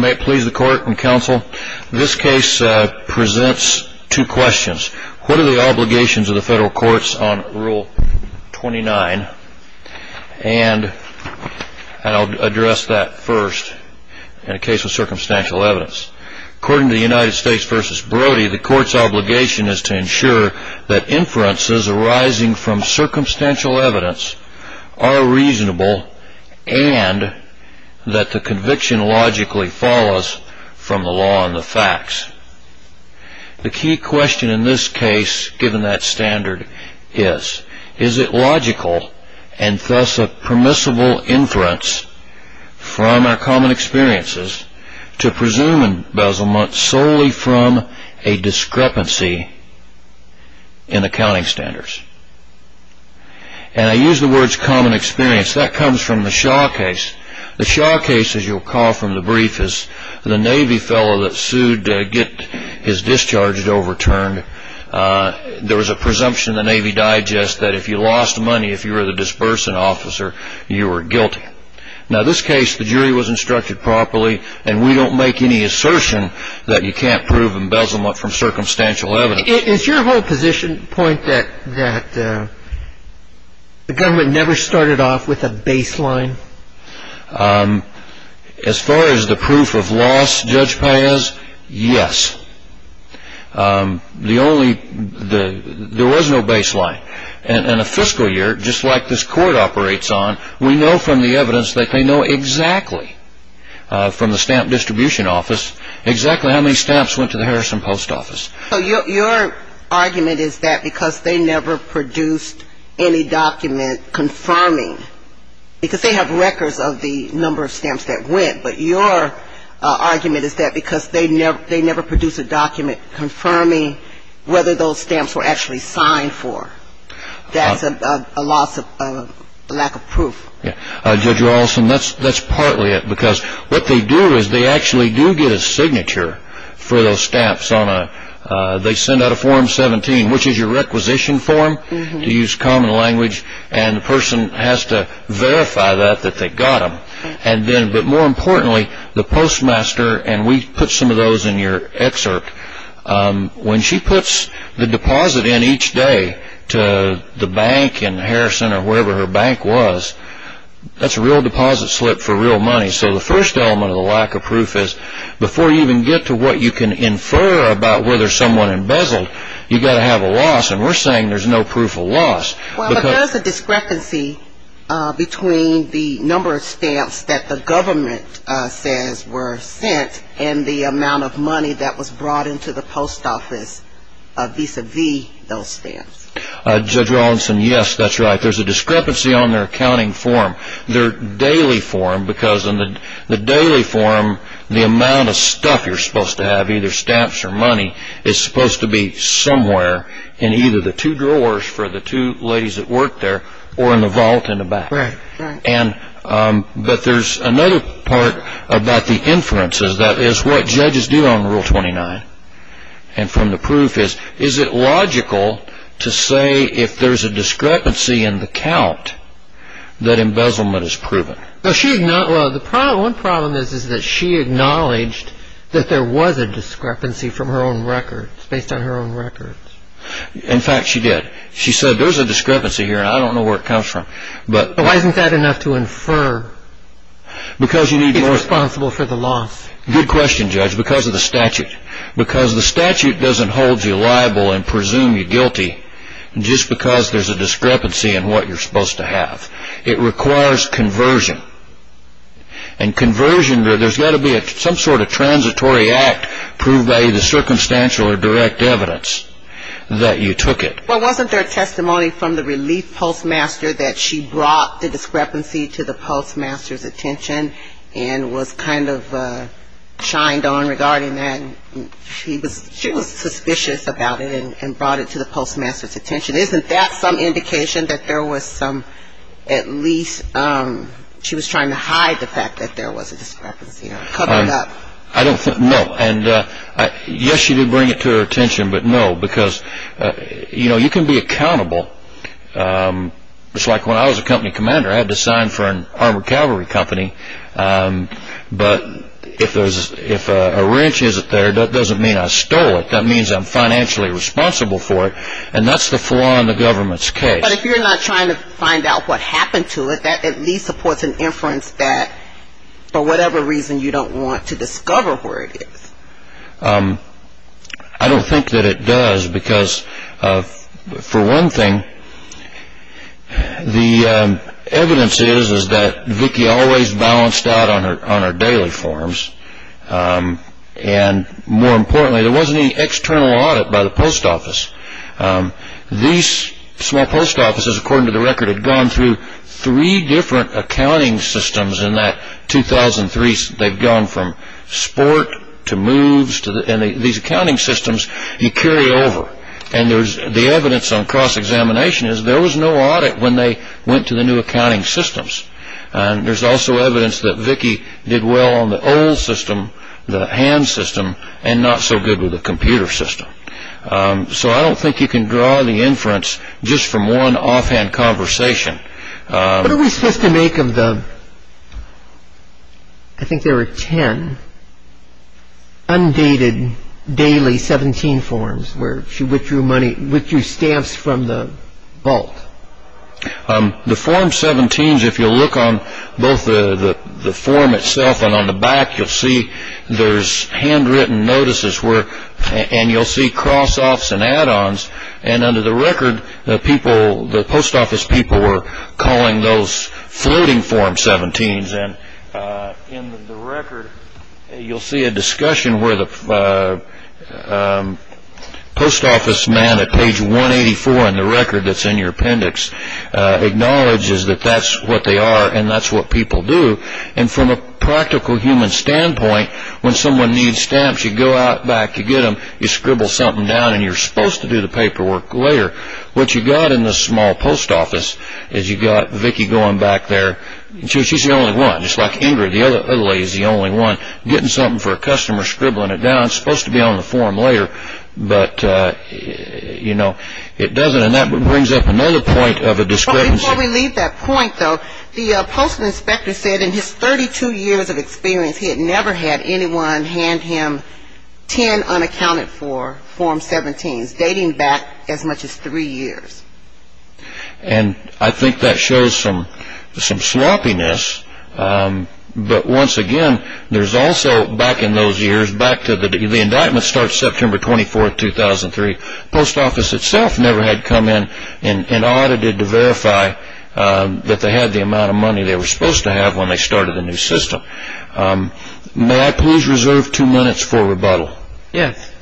May it please the court and counsel, this case presents two questions. What are the obligations of the federal courts on Rule 29? And I'll address that first in a case of circumstantial evidence. According to the United States v. Brody, the court's obligation is to ensure that inferences arising from circumstantial evidence are reasonable and that the conviction logically follows from the law and the facts. The key question in this case, given that standard, is is it logical and thus a permissible inference from our common experiences to presume embezzlement solely from a discrepancy in accounting standards? And I use the words common experience. That comes from the Shaw case. The Shaw case, as you'll recall from the brief, is the Navy fellow that sued to get his discharge overturned. There was a presumption in the Navy Digest that if you lost money, if you were the dispersant officer, you were guilty. Now, in this case, the jury was instructed properly, and we don't make any assertion that you can't prove embezzlement from circumstantial evidence. Is your whole position that the government never started off with a baseline? As far as the proof of loss, Judge Paez, yes. There was no baseline. In a fiscal year, just like this court operates on, we know from the evidence that they know exactly from the Stamp Distribution Office exactly how many stamps went to the Harrison Post Office. So your argument is that because they never produced any document confirming, because they have records of the number of stamps that went, but your argument is that because they never produced a document confirming whether those stamps were actually signed for. That's a lack of proof. Judge Rawlston, that's partly it. What they do is they actually do get a signature for those stamps. They send out a Form 17, which is your requisition form, to use common language, and the person has to verify that they got them. But more importantly, the postmaster, and we put some of those in your excerpt, when she puts the deposit in each day to the bank in Harrison or wherever her bank was, that's a real deposit slip for real money. So the first element of the lack of proof is before you even get to what you can infer about whether someone embezzled, you've got to have a loss. And we're saying there's no proof of loss. Well, there's a discrepancy between the number of stamps that the government says were sent and the amount of money that was brought into the post office vis-a-vis those stamps. Judge Rawlston, yes, that's right. There's a discrepancy on their accounting form. Their daily form, because in the daily form, the amount of stuff you're supposed to have, either stamps or money, is supposed to be somewhere in either the two drawers for the two ladies that worked there or in the vault in the back. But there's another part about the inferences that is what judges do on Rule 29. And from the proof is, is it logical to say if there's a discrepancy in the count that embezzlement is proven? One problem is that she acknowledged that there was a discrepancy from her own records, based on her own records. In fact, she did. She said, there's a discrepancy here and I don't know where it comes from. But why isn't that enough to infer he's responsible for the loss? Good question, Judge, because of the statute. Because the statute doesn't hold you liable and presume you guilty just because there's a discrepancy in what you're supposed to have. It requires conversion. And conversion, there's got to be some sort of transitory act proved by either circumstantial or direct evidence that you took it. Well, wasn't there testimony from the relief postmaster that she brought the discrepancy to the postmaster's attention and was kind of shined on regarding that? She was suspicious about it and brought it to the postmaster's attention. Isn't that some indication that there was some, at least, she was trying to hide the fact that there was a discrepancy or cover it up? I don't think, no. Yes, she did bring it to her attention, but no. Because, you know, you can be accountable. Just like when I was a company commander, I had to sign for an armored cavalry company. But if a wrench isn't there, that doesn't mean I stole it. That means I'm financially responsible for it. And that's the flaw in the government's case. But if you're not trying to find out what happened to it, that at least supports an inference that for whatever reason you don't want to discover where it is. I don't think that it does because, for one thing, the evidence is that Vicki always balanced out on her daily forms. And, more importantly, there wasn't any external audit by the post office. These small post offices, according to the record, had gone through three different accounting systems in that 2003. They've gone from sport to moves. And these accounting systems you carry over. And the evidence on cross-examination is there was no audit when they went to the new accounting systems. And there's also evidence that Vicki did well on the old system, the hand system, and not so good with the computer system. So I don't think you can draw the inference just from one offhand conversation. What are we supposed to make of the, I think there were ten, undated daily 17 forms where she withdrew stamps from the vault? The form 17s, if you look on both the form itself and on the back, you'll see there's handwritten notices and you'll see cross-offs and add-ons. And under the record, the post office people were calling those floating form 17s. And in the record, you'll see a discussion where the post office man at page 184 in the record that's in your appendix acknowledges that that's what they are and that's what people do. And from a practical human standpoint, when someone needs stamps, you go out back to get them, you scribble something down, and you're supposed to do the paperwork later. What you've got in the small post office is you've got Vicki going back there. She's the only one, just like Ingrid, the other lady's the only one, getting something for a customer, scribbling it down. It's supposed to be on the form later, but it doesn't. And that brings up another point of a discrepancy. Before we leave that point, though, the postal inspector said in his 32 years of experience, he had never had anyone hand him 10 unaccounted for form 17s, dating back as much as three years. And I think that shows some sloppiness. But once again, there's also, back in those years, back to the indictment starts September 24, 2003, the post office itself never had come in and audited to verify that they had the amount of money they were supposed to have when they started the new system. May I please reserve two minutes for rebuttal? Yes.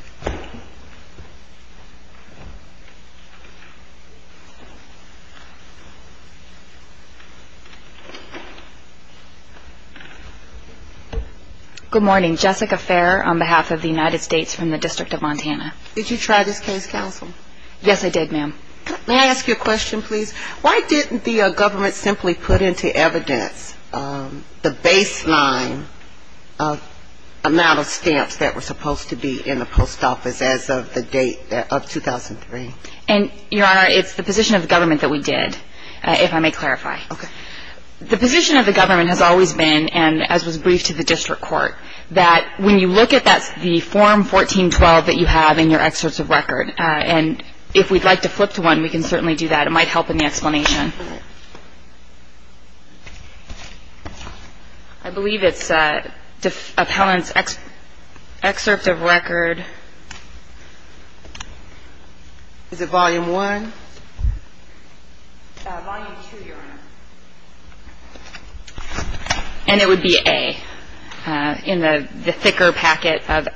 Good morning. Jessica Fair on behalf of the United States from the District of Montana. Did you try this case, counsel? Yes, I did, ma'am. May I ask you a question, please? Why didn't the government simply put into evidence the baseline amount of stamps that were supposed to be in the post office as of the date of 2003? And, Your Honor, it's the position of the government that we did, if I may clarify. Okay. The position of the government has always been, and as was briefed to the district court, that when you look at the form 1412 that you have in your excerpts of record, and if we'd like to flip to one, we can certainly do that. It might help in the explanation. I believe it's appellant's excerpt of record. Is it volume one? Volume two, Your Honor. And it would be A in the thicker packet of.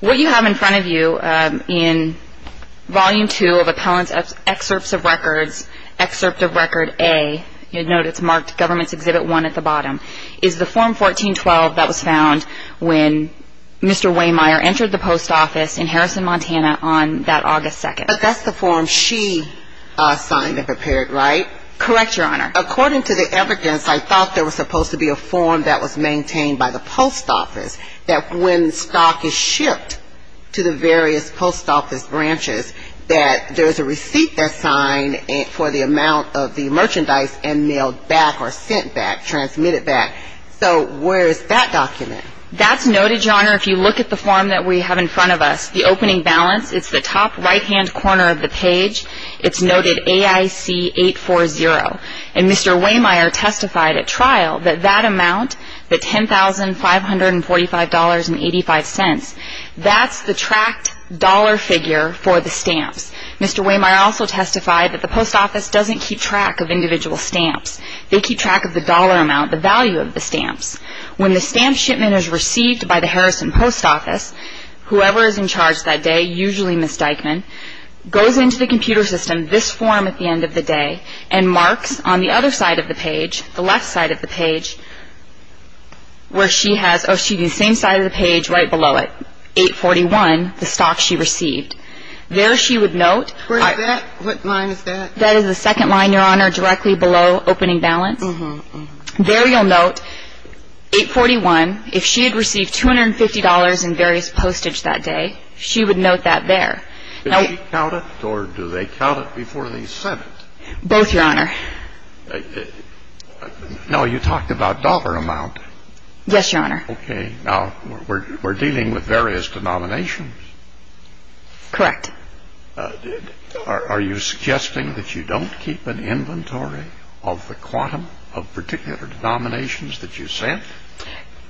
What you have in front of you in volume two of appellant's excerpts of records, excerpt of record A, you'd note it's marked government's exhibit one at the bottom, is the form 1412 that was found when Mr. Waymire entered the post office in Harrison, Montana, on that August 2nd. But that's the form she signed and prepared, right? Correct, Your Honor. According to the evidence, I thought there was supposed to be a form that was maintained by the post office, that when stock is shipped to the various post office branches, that there's a receipt that's signed for the amount of the merchandise and mailed back or sent back, transmitted back. So where is that document? That's noted, Your Honor, if you look at the form that we have in front of us. The opening balance, it's the top right-hand corner of the page. It's noted AIC 840. And Mr. Waymire testified at trial that that amount, the $10,545.85, that's the tracked dollar figure for the stamps. Mr. Waymire also testified that the post office doesn't keep track of individual stamps. They keep track of the dollar amount, the value of the stamps. When the stamp shipment is received by the Harrison post office, whoever is in charge that day, usually Ms. Dyckman, goes into the computer system, this form at the end of the day, and marks on the other side of the page, the left side of the page, where she has the same side of the page right below it, 841, the stock she received. There she would note. What line is that? That is the second line, Your Honor, directly below opening balance. There you'll note 841. If she had received $250 in various postage that day, she would note that there. Did she count it, or do they count it before they send it? Both, Your Honor. Now, you talked about dollar amount. Yes, Your Honor. Okay. Now, we're dealing with various denominations. Correct. Are you suggesting that you don't keep an inventory of the quantum of particular denominations that you sent?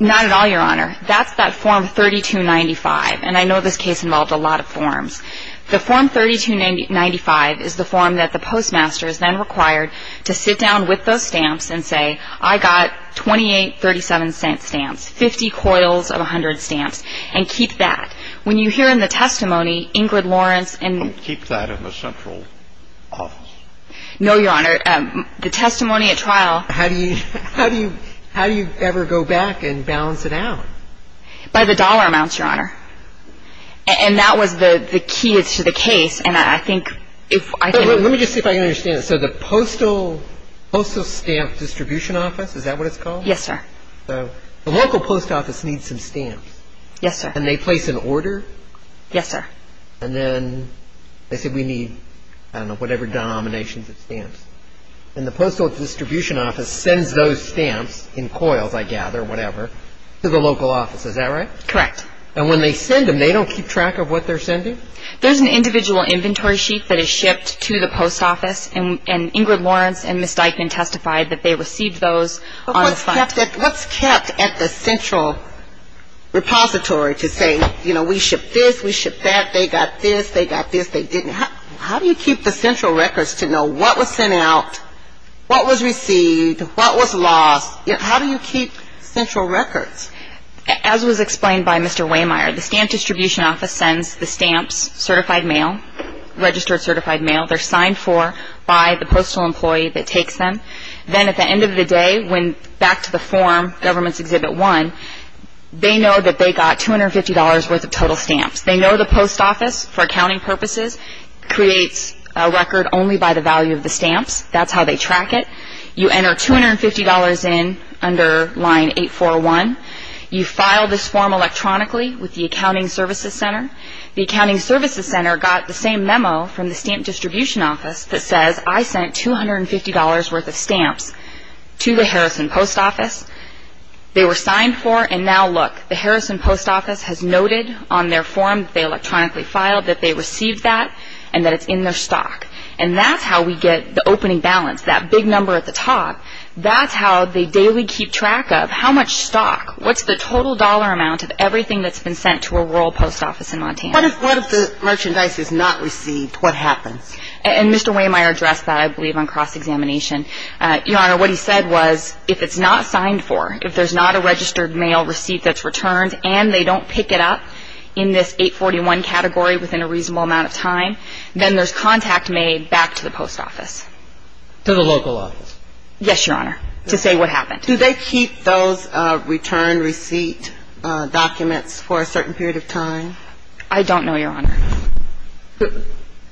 Not at all, Your Honor. That's that form 3295, and I know this case involved a lot of forms. The form 3295 is the form that the postmaster is then required to sit down with those stamps and say, I got 28.37-cent stamps, 50 coils of 100 stamps, and keep that. When you hear in the testimony, Ingrid Lawrence and — Don't keep that in the central office. No, Your Honor. The testimony at trial — How do you ever go back and balance it out? By the dollar amounts, Your Honor. And that was the key to the case, and I think if — Let me just see if I can understand this. So the postal stamp distribution office, is that what it's called? Yes, sir. The local post office needs some stamps. Yes, sir. And they place an order? Yes, sir. And then they said we need, I don't know, whatever denominations of stamps. And the postal distribution office sends those stamps in coils, I gather, whatever, to the local office. Is that right? Correct. And when they send them, they don't keep track of what they're sending? There's an individual inventory sheet that is shipped to the post office, and Ingrid Lawrence and Ms. Dyckman testified that they received those on the — But what's kept at the central repository to say, you know, we shipped this, we shipped that, they got this, they got this, they didn't? How do you keep the central records to know what was sent out, what was received, what was lost? How do you keep central records? As was explained by Mr. Wehmeyer, the stamp distribution office sends the stamps certified mail, registered certified mail. They're signed for by the postal employee that takes them. Then at the end of the day, when back to the form, Government's Exhibit 1, they know that they got $250 worth of total stamps. They know the post office, for accounting purposes, creates a record only by the value of the stamps. That's how they track it. You enter $250 in under line 841. You file this form electronically with the accounting services center. The accounting services center got the same memo from the stamp distribution office that says, I sent $250 worth of stamps to the Harrison Post Office. They were signed for, and now look, the Harrison Post Office has noted on their form that they electronically filed, that they received that, and that it's in their stock. And that's how we get the opening balance, that big number at the top. That's how they daily keep track of how much stock, what's the total dollar amount of everything that's been sent to a rural post office in Montana. What if the merchandise is not received? What happens? And Mr. Wehmeyer addressed that, I believe, on cross-examination. Your Honor, what he said was, if it's not signed for, if there's not a registered mail receipt that's returned, and they don't pick it up in this 841 category within a reasonable amount of time, then there's contact made back to the post office. To the local office? Yes, Your Honor, to say what happened. Do they keep those return receipt documents for a certain period of time? I don't know, Your Honor.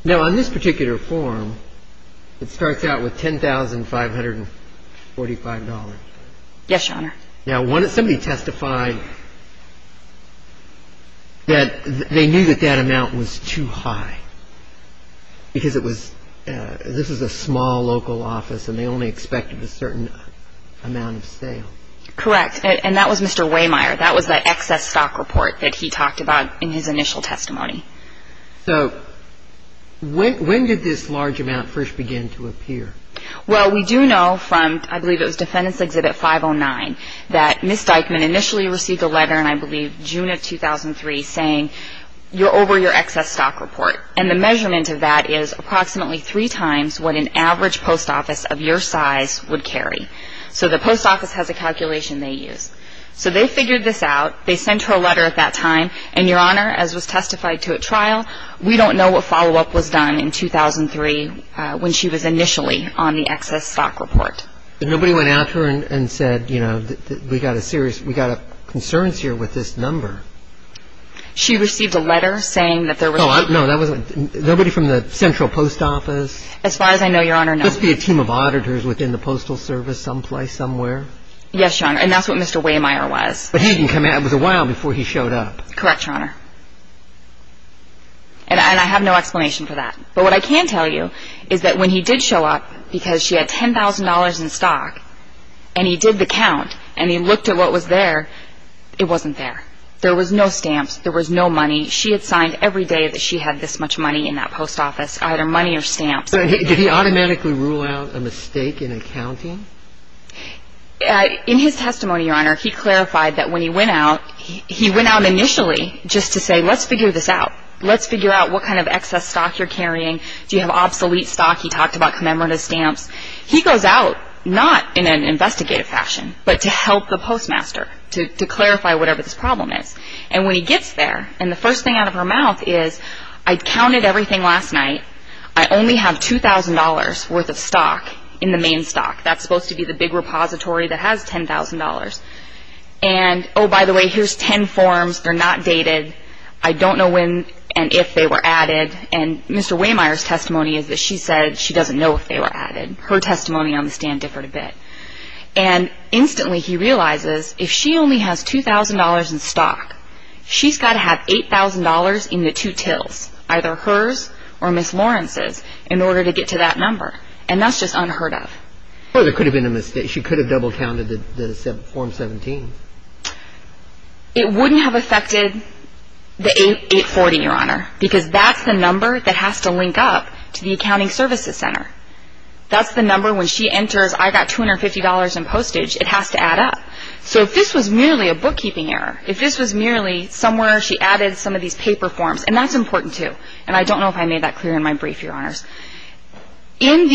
Now, on this particular form, it starts out with $10,545. Yes, Your Honor. Now, somebody testified that they knew that that amount was too high, because this was a small local office and they only expected a certain amount of sale. Correct, and that was Mr. Wehmeyer. That was the excess stock report that he talked about in his initial testimony. So when did this large amount first begin to appear? Well, we do know from, I believe it was Defendant's Exhibit 509, that Ms. Dykman initially received a letter in, I believe, June of 2003, saying, you're over your excess stock report. And the measurement of that is approximately three times what an average post office of your size would carry. So the post office has a calculation they use. So they figured this out. They sent her a letter at that time. And, Your Honor, as was testified to at trial, we don't know what follow-up was done in 2003 when she was initially on the excess stock report. But nobody went after her and said, you know, we've got a serious, we've got concerns here with this number. She received a letter saying that there was. No, that wasn't, nobody from the Central Post Office? As far as I know, Your Honor, no. Must be a team of auditors within the Postal Service someplace, somewhere. Yes, Your Honor, and that's what Mr. Wehmeyer was. But he didn't come out, it was a while before he showed up. Correct, Your Honor. And I have no explanation for that. But what I can tell you is that when he did show up, because she had $10,000 in stock, and he did the count, and he looked at what was there, it wasn't there. There was no stamps. There was no money. She had signed every day that she had this much money in that post office, either money or stamps. Did he automatically rule out a mistake in accounting? In his testimony, Your Honor, he clarified that when he went out, he went out initially just to say, let's figure this out. Let's figure out what kind of excess stock you're carrying. Do you have obsolete stock? He talked about commemorative stamps. He goes out, not in an investigative fashion, but to help the postmaster, to clarify whatever this problem is. And when he gets there, and the first thing out of her mouth is, I counted everything last night. I only have $2,000 worth of stock in the main stock. That's supposed to be the big repository that has $10,000. And, oh, by the way, here's 10 forms. They're not dated. I don't know when and if they were added. And Mr. Waymire's testimony is that she said she doesn't know if they were added. Her testimony on the stand differed a bit. And instantly he realizes, if she only has $2,000 in stock, she's got to have $8,000 in the two tills, either hers or Ms. Lawrence's, in order to get to that number. And that's just unheard of. Well, there could have been a mistake. She could have double-counted the form 17. It wouldn't have affected the 840, Your Honor, because that's the number that has to link up to the accounting services center. That's the number when she enters, I got $250 in postage. It has to add up. So if this was merely a bookkeeping error, if this was merely somewhere she added some of these paper forms, and that's important, too. And I don't know if I made that clear in my brief, Your Honors. In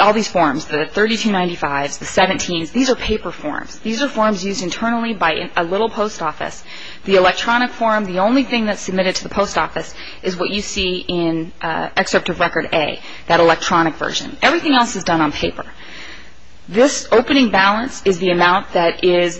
all these forms, the 3295s, the 17s, these are paper forms. These are forms used internally by a little post office. The electronic form, the only thing that's submitted to the post office is what you see in Excerpt of Record A, that electronic version. Everything else is done on paper. This opening balance is the amount that is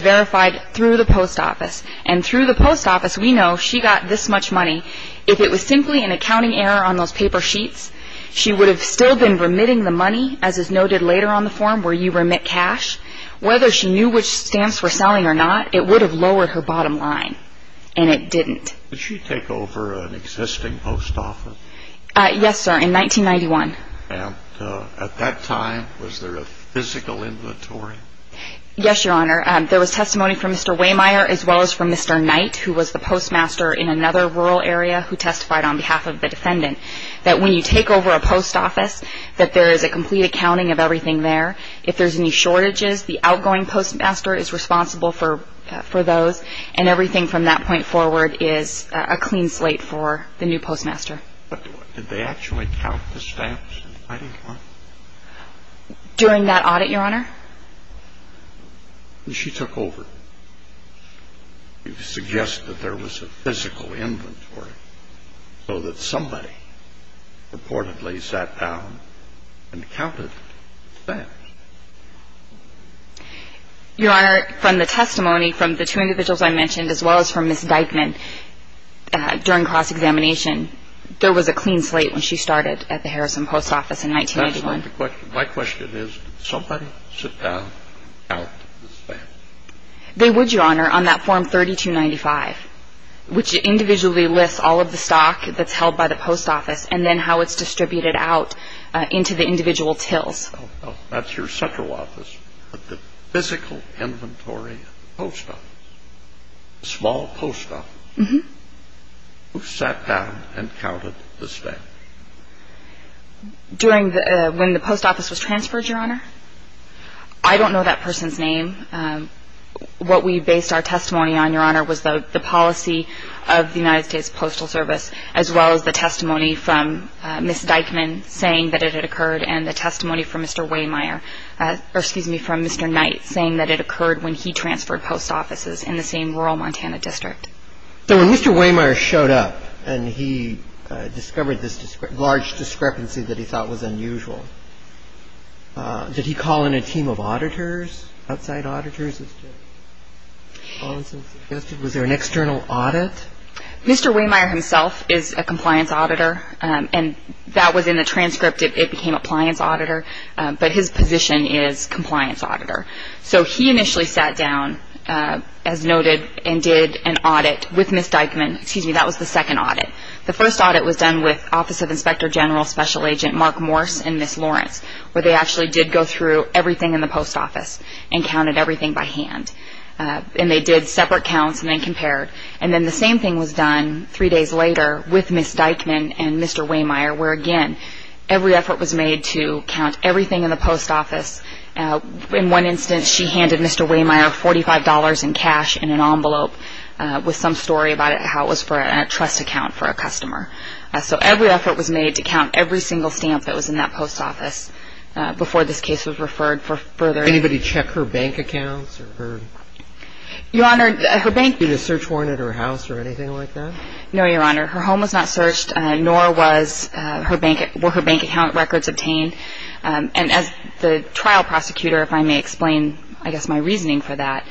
verified through the post office. And through the post office, we know she got this much money. If it was simply an accounting error on those paper sheets, she would have still been remitting the money, as is noted later on the form, where you remit cash. Whether she knew which stamps were selling or not, it would have lowered her bottom line, and it didn't. Did she take over an existing post office? Yes, sir, in 1991. And at that time, was there a physical inventory? Yes, Your Honor. There was testimony from Mr. Waymire, as well as from Mr. Knight, who was the postmaster in another rural area who testified on behalf of the defendant, that when you take over a post office, that there is a complete accounting of everything there. If there's any shortages, the outgoing postmaster is responsible for those, and everything from that point forward is a clean slate for the new postmaster. During that audit, Your Honor? She took over. You suggest that there was a physical inventory, so that somebody purportedly sat down and counted the stamps. Your Honor, from the testimony from the two individuals I mentioned, as well as from Ms. Dyckman, during cross-examination, there was a clean slate when she started at the Harrison Post Office in 1991. My question is, did somebody sit down and count the stamps? They would, Your Honor, on that Form 3295, which individually lists all of the stock that's held by the post office and then how it's distributed out into the individual tills. That's your central office, but the physical inventory of the post office, the small post office, who sat down and counted the stamps? During when the post office was transferred, Your Honor? I don't know that person's name. What we based our testimony on, Your Honor, was the policy of the United States Postal Service, as well as the testimony from Ms. Dyckman saying that it had occurred, and the testimony from Mr. Wehmeyer, or excuse me, from Mr. Knight, saying that it occurred when he transferred post offices in the same rural Montana district. So when Mr. Wehmeyer showed up and he discovered this large discrepancy that he thought was unusual, did he call in a team of auditors, outside auditors? Was there an external audit? Mr. Wehmeyer himself is a compliance auditor, and that was in the transcript. It became appliance auditor, but his position is compliance auditor. So he initially sat down, as noted, and did an audit with Ms. Dyckman. Excuse me, that was the second audit. The first audit was done with Office of Inspector General Special Agent Mark Morse and Ms. Lawrence, where they actually did go through everything in the post office and counted everything by hand. And they did separate counts and then compared. And then the same thing was done three days later with Ms. Dyckman and Mr. Wehmeyer, where, again, every effort was made to count everything in the post office. In one instance, she handed Mr. Wehmeyer $45 in cash in an envelope with some story about it, how it was for a trust account for a customer. So every effort was made to count every single stamp that was in that post office before this case was referred for further. Did anybody check her bank accounts? Your Honor, her bank – Did you get a search warrant at her house or anything like that? No, Your Honor. Her home was not searched, nor were her bank account records obtained. And as the trial prosecutor, if I may explain, I guess, my reasoning for that,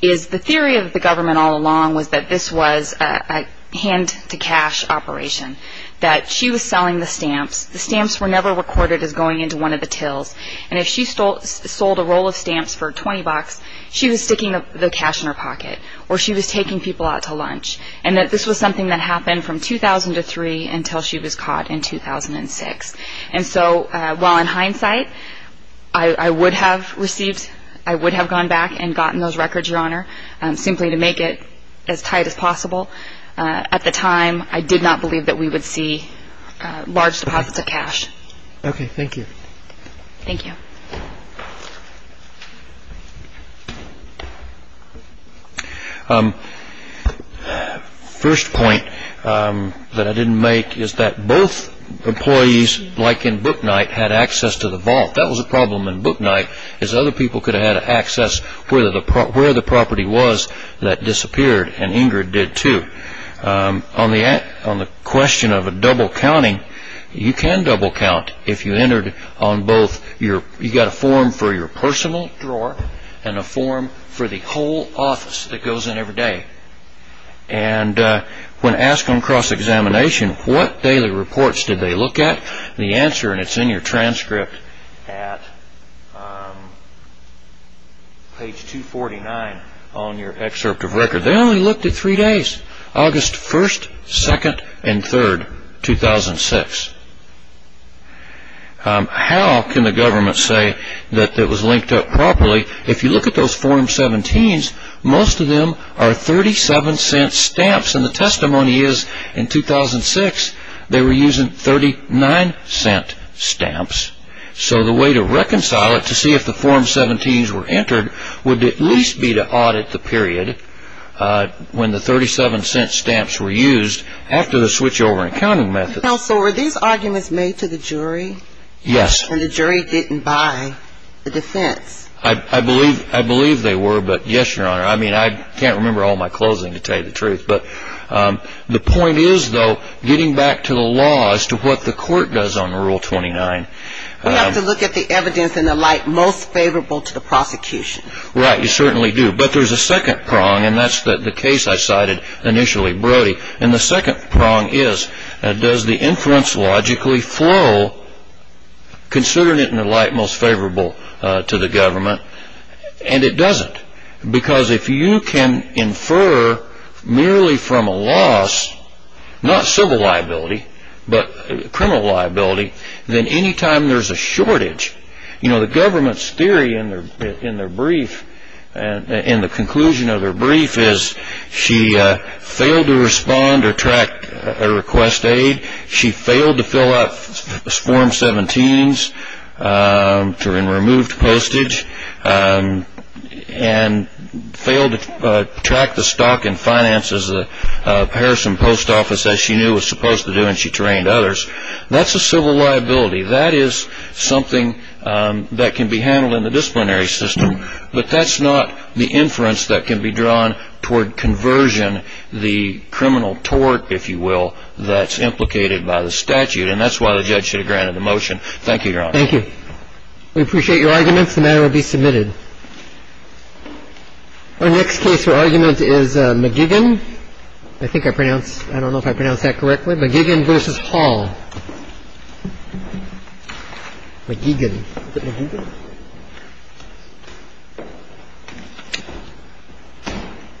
is the theory of the government all along was that this was a hand-to-cash operation, that she was selling the stamps, the stamps were never recorded as going into one of the tills, and if she sold a roll of stamps for $20, she was sticking the cash in her pocket or she was taking people out to lunch. And that this was something that happened from 2003 until she was caught in 2006. And so while in hindsight, I would have received, I would have gone back and gotten those records, Your Honor, simply to make it as tight as possible, at the time I did not believe that we would see large deposits of cash. Okay, thank you. Thank you. First point that I didn't make is that both employees, like in Booknight, had access to the vault. That was a problem in Booknight, is other people could have had access where the property was that disappeared, and Ingrid did too. On the question of a double counting, you can double count if you entered on both, you got a form for your personal drawer and a form for the whole office that goes in every day. And when asked on cross-examination what daily reports did they look at, the answer, and it's in your transcript at page 249 on your excerpt of record, they only looked at three days, August 1st, 2nd, and 3rd, 2006. How can the government say that it was linked up properly? If you look at those Form 17s, most of them are 37-cent stamps, and the testimony is, in 2006, they were using 39-cent stamps. So the way to reconcile it, to see if the Form 17s were entered, would at least be to audit the period when the 37-cent stamps were used, after the switchover and counting method. Counsel, were these arguments made to the jury? Yes. And the jury didn't buy the defense? I believe they were, but yes, Your Honor. I mean, I can't remember all my closing to tell you the truth. But the point is, though, getting back to the law as to what the court does on Rule 29. We have to look at the evidence in the light most favorable to the prosecution. Right, you certainly do. And the second prong is, does the inference logically flow, considering it in the light most favorable to the government? And it doesn't. Because if you can infer merely from a loss, not civil liability, but criminal liability, then any time there's a shortage, you know, the government's theory in their brief, in the conclusion of their brief, is she failed to respond or track a request to aid, she failed to fill out Form 17s and removed postage, and failed to track the stock and finances of Harrison Post Office, as she knew it was supposed to do, and she trained others. That's a civil liability. That is something that can be handled in the disciplinary system. But that's not the inference that can be drawn toward conversion, the criminal tort, if you will, that's implicated by the statute. And that's why the judge should have granted the motion. Thank you, Your Honor. Thank you. We appreciate your arguments. The matter will be submitted. Our next case for argument is McGigan. I think I pronounced – I don't know if I pronounced that correctly. McGigan v. Hall. McGigan. I'm going to put my hand up. Listen to him.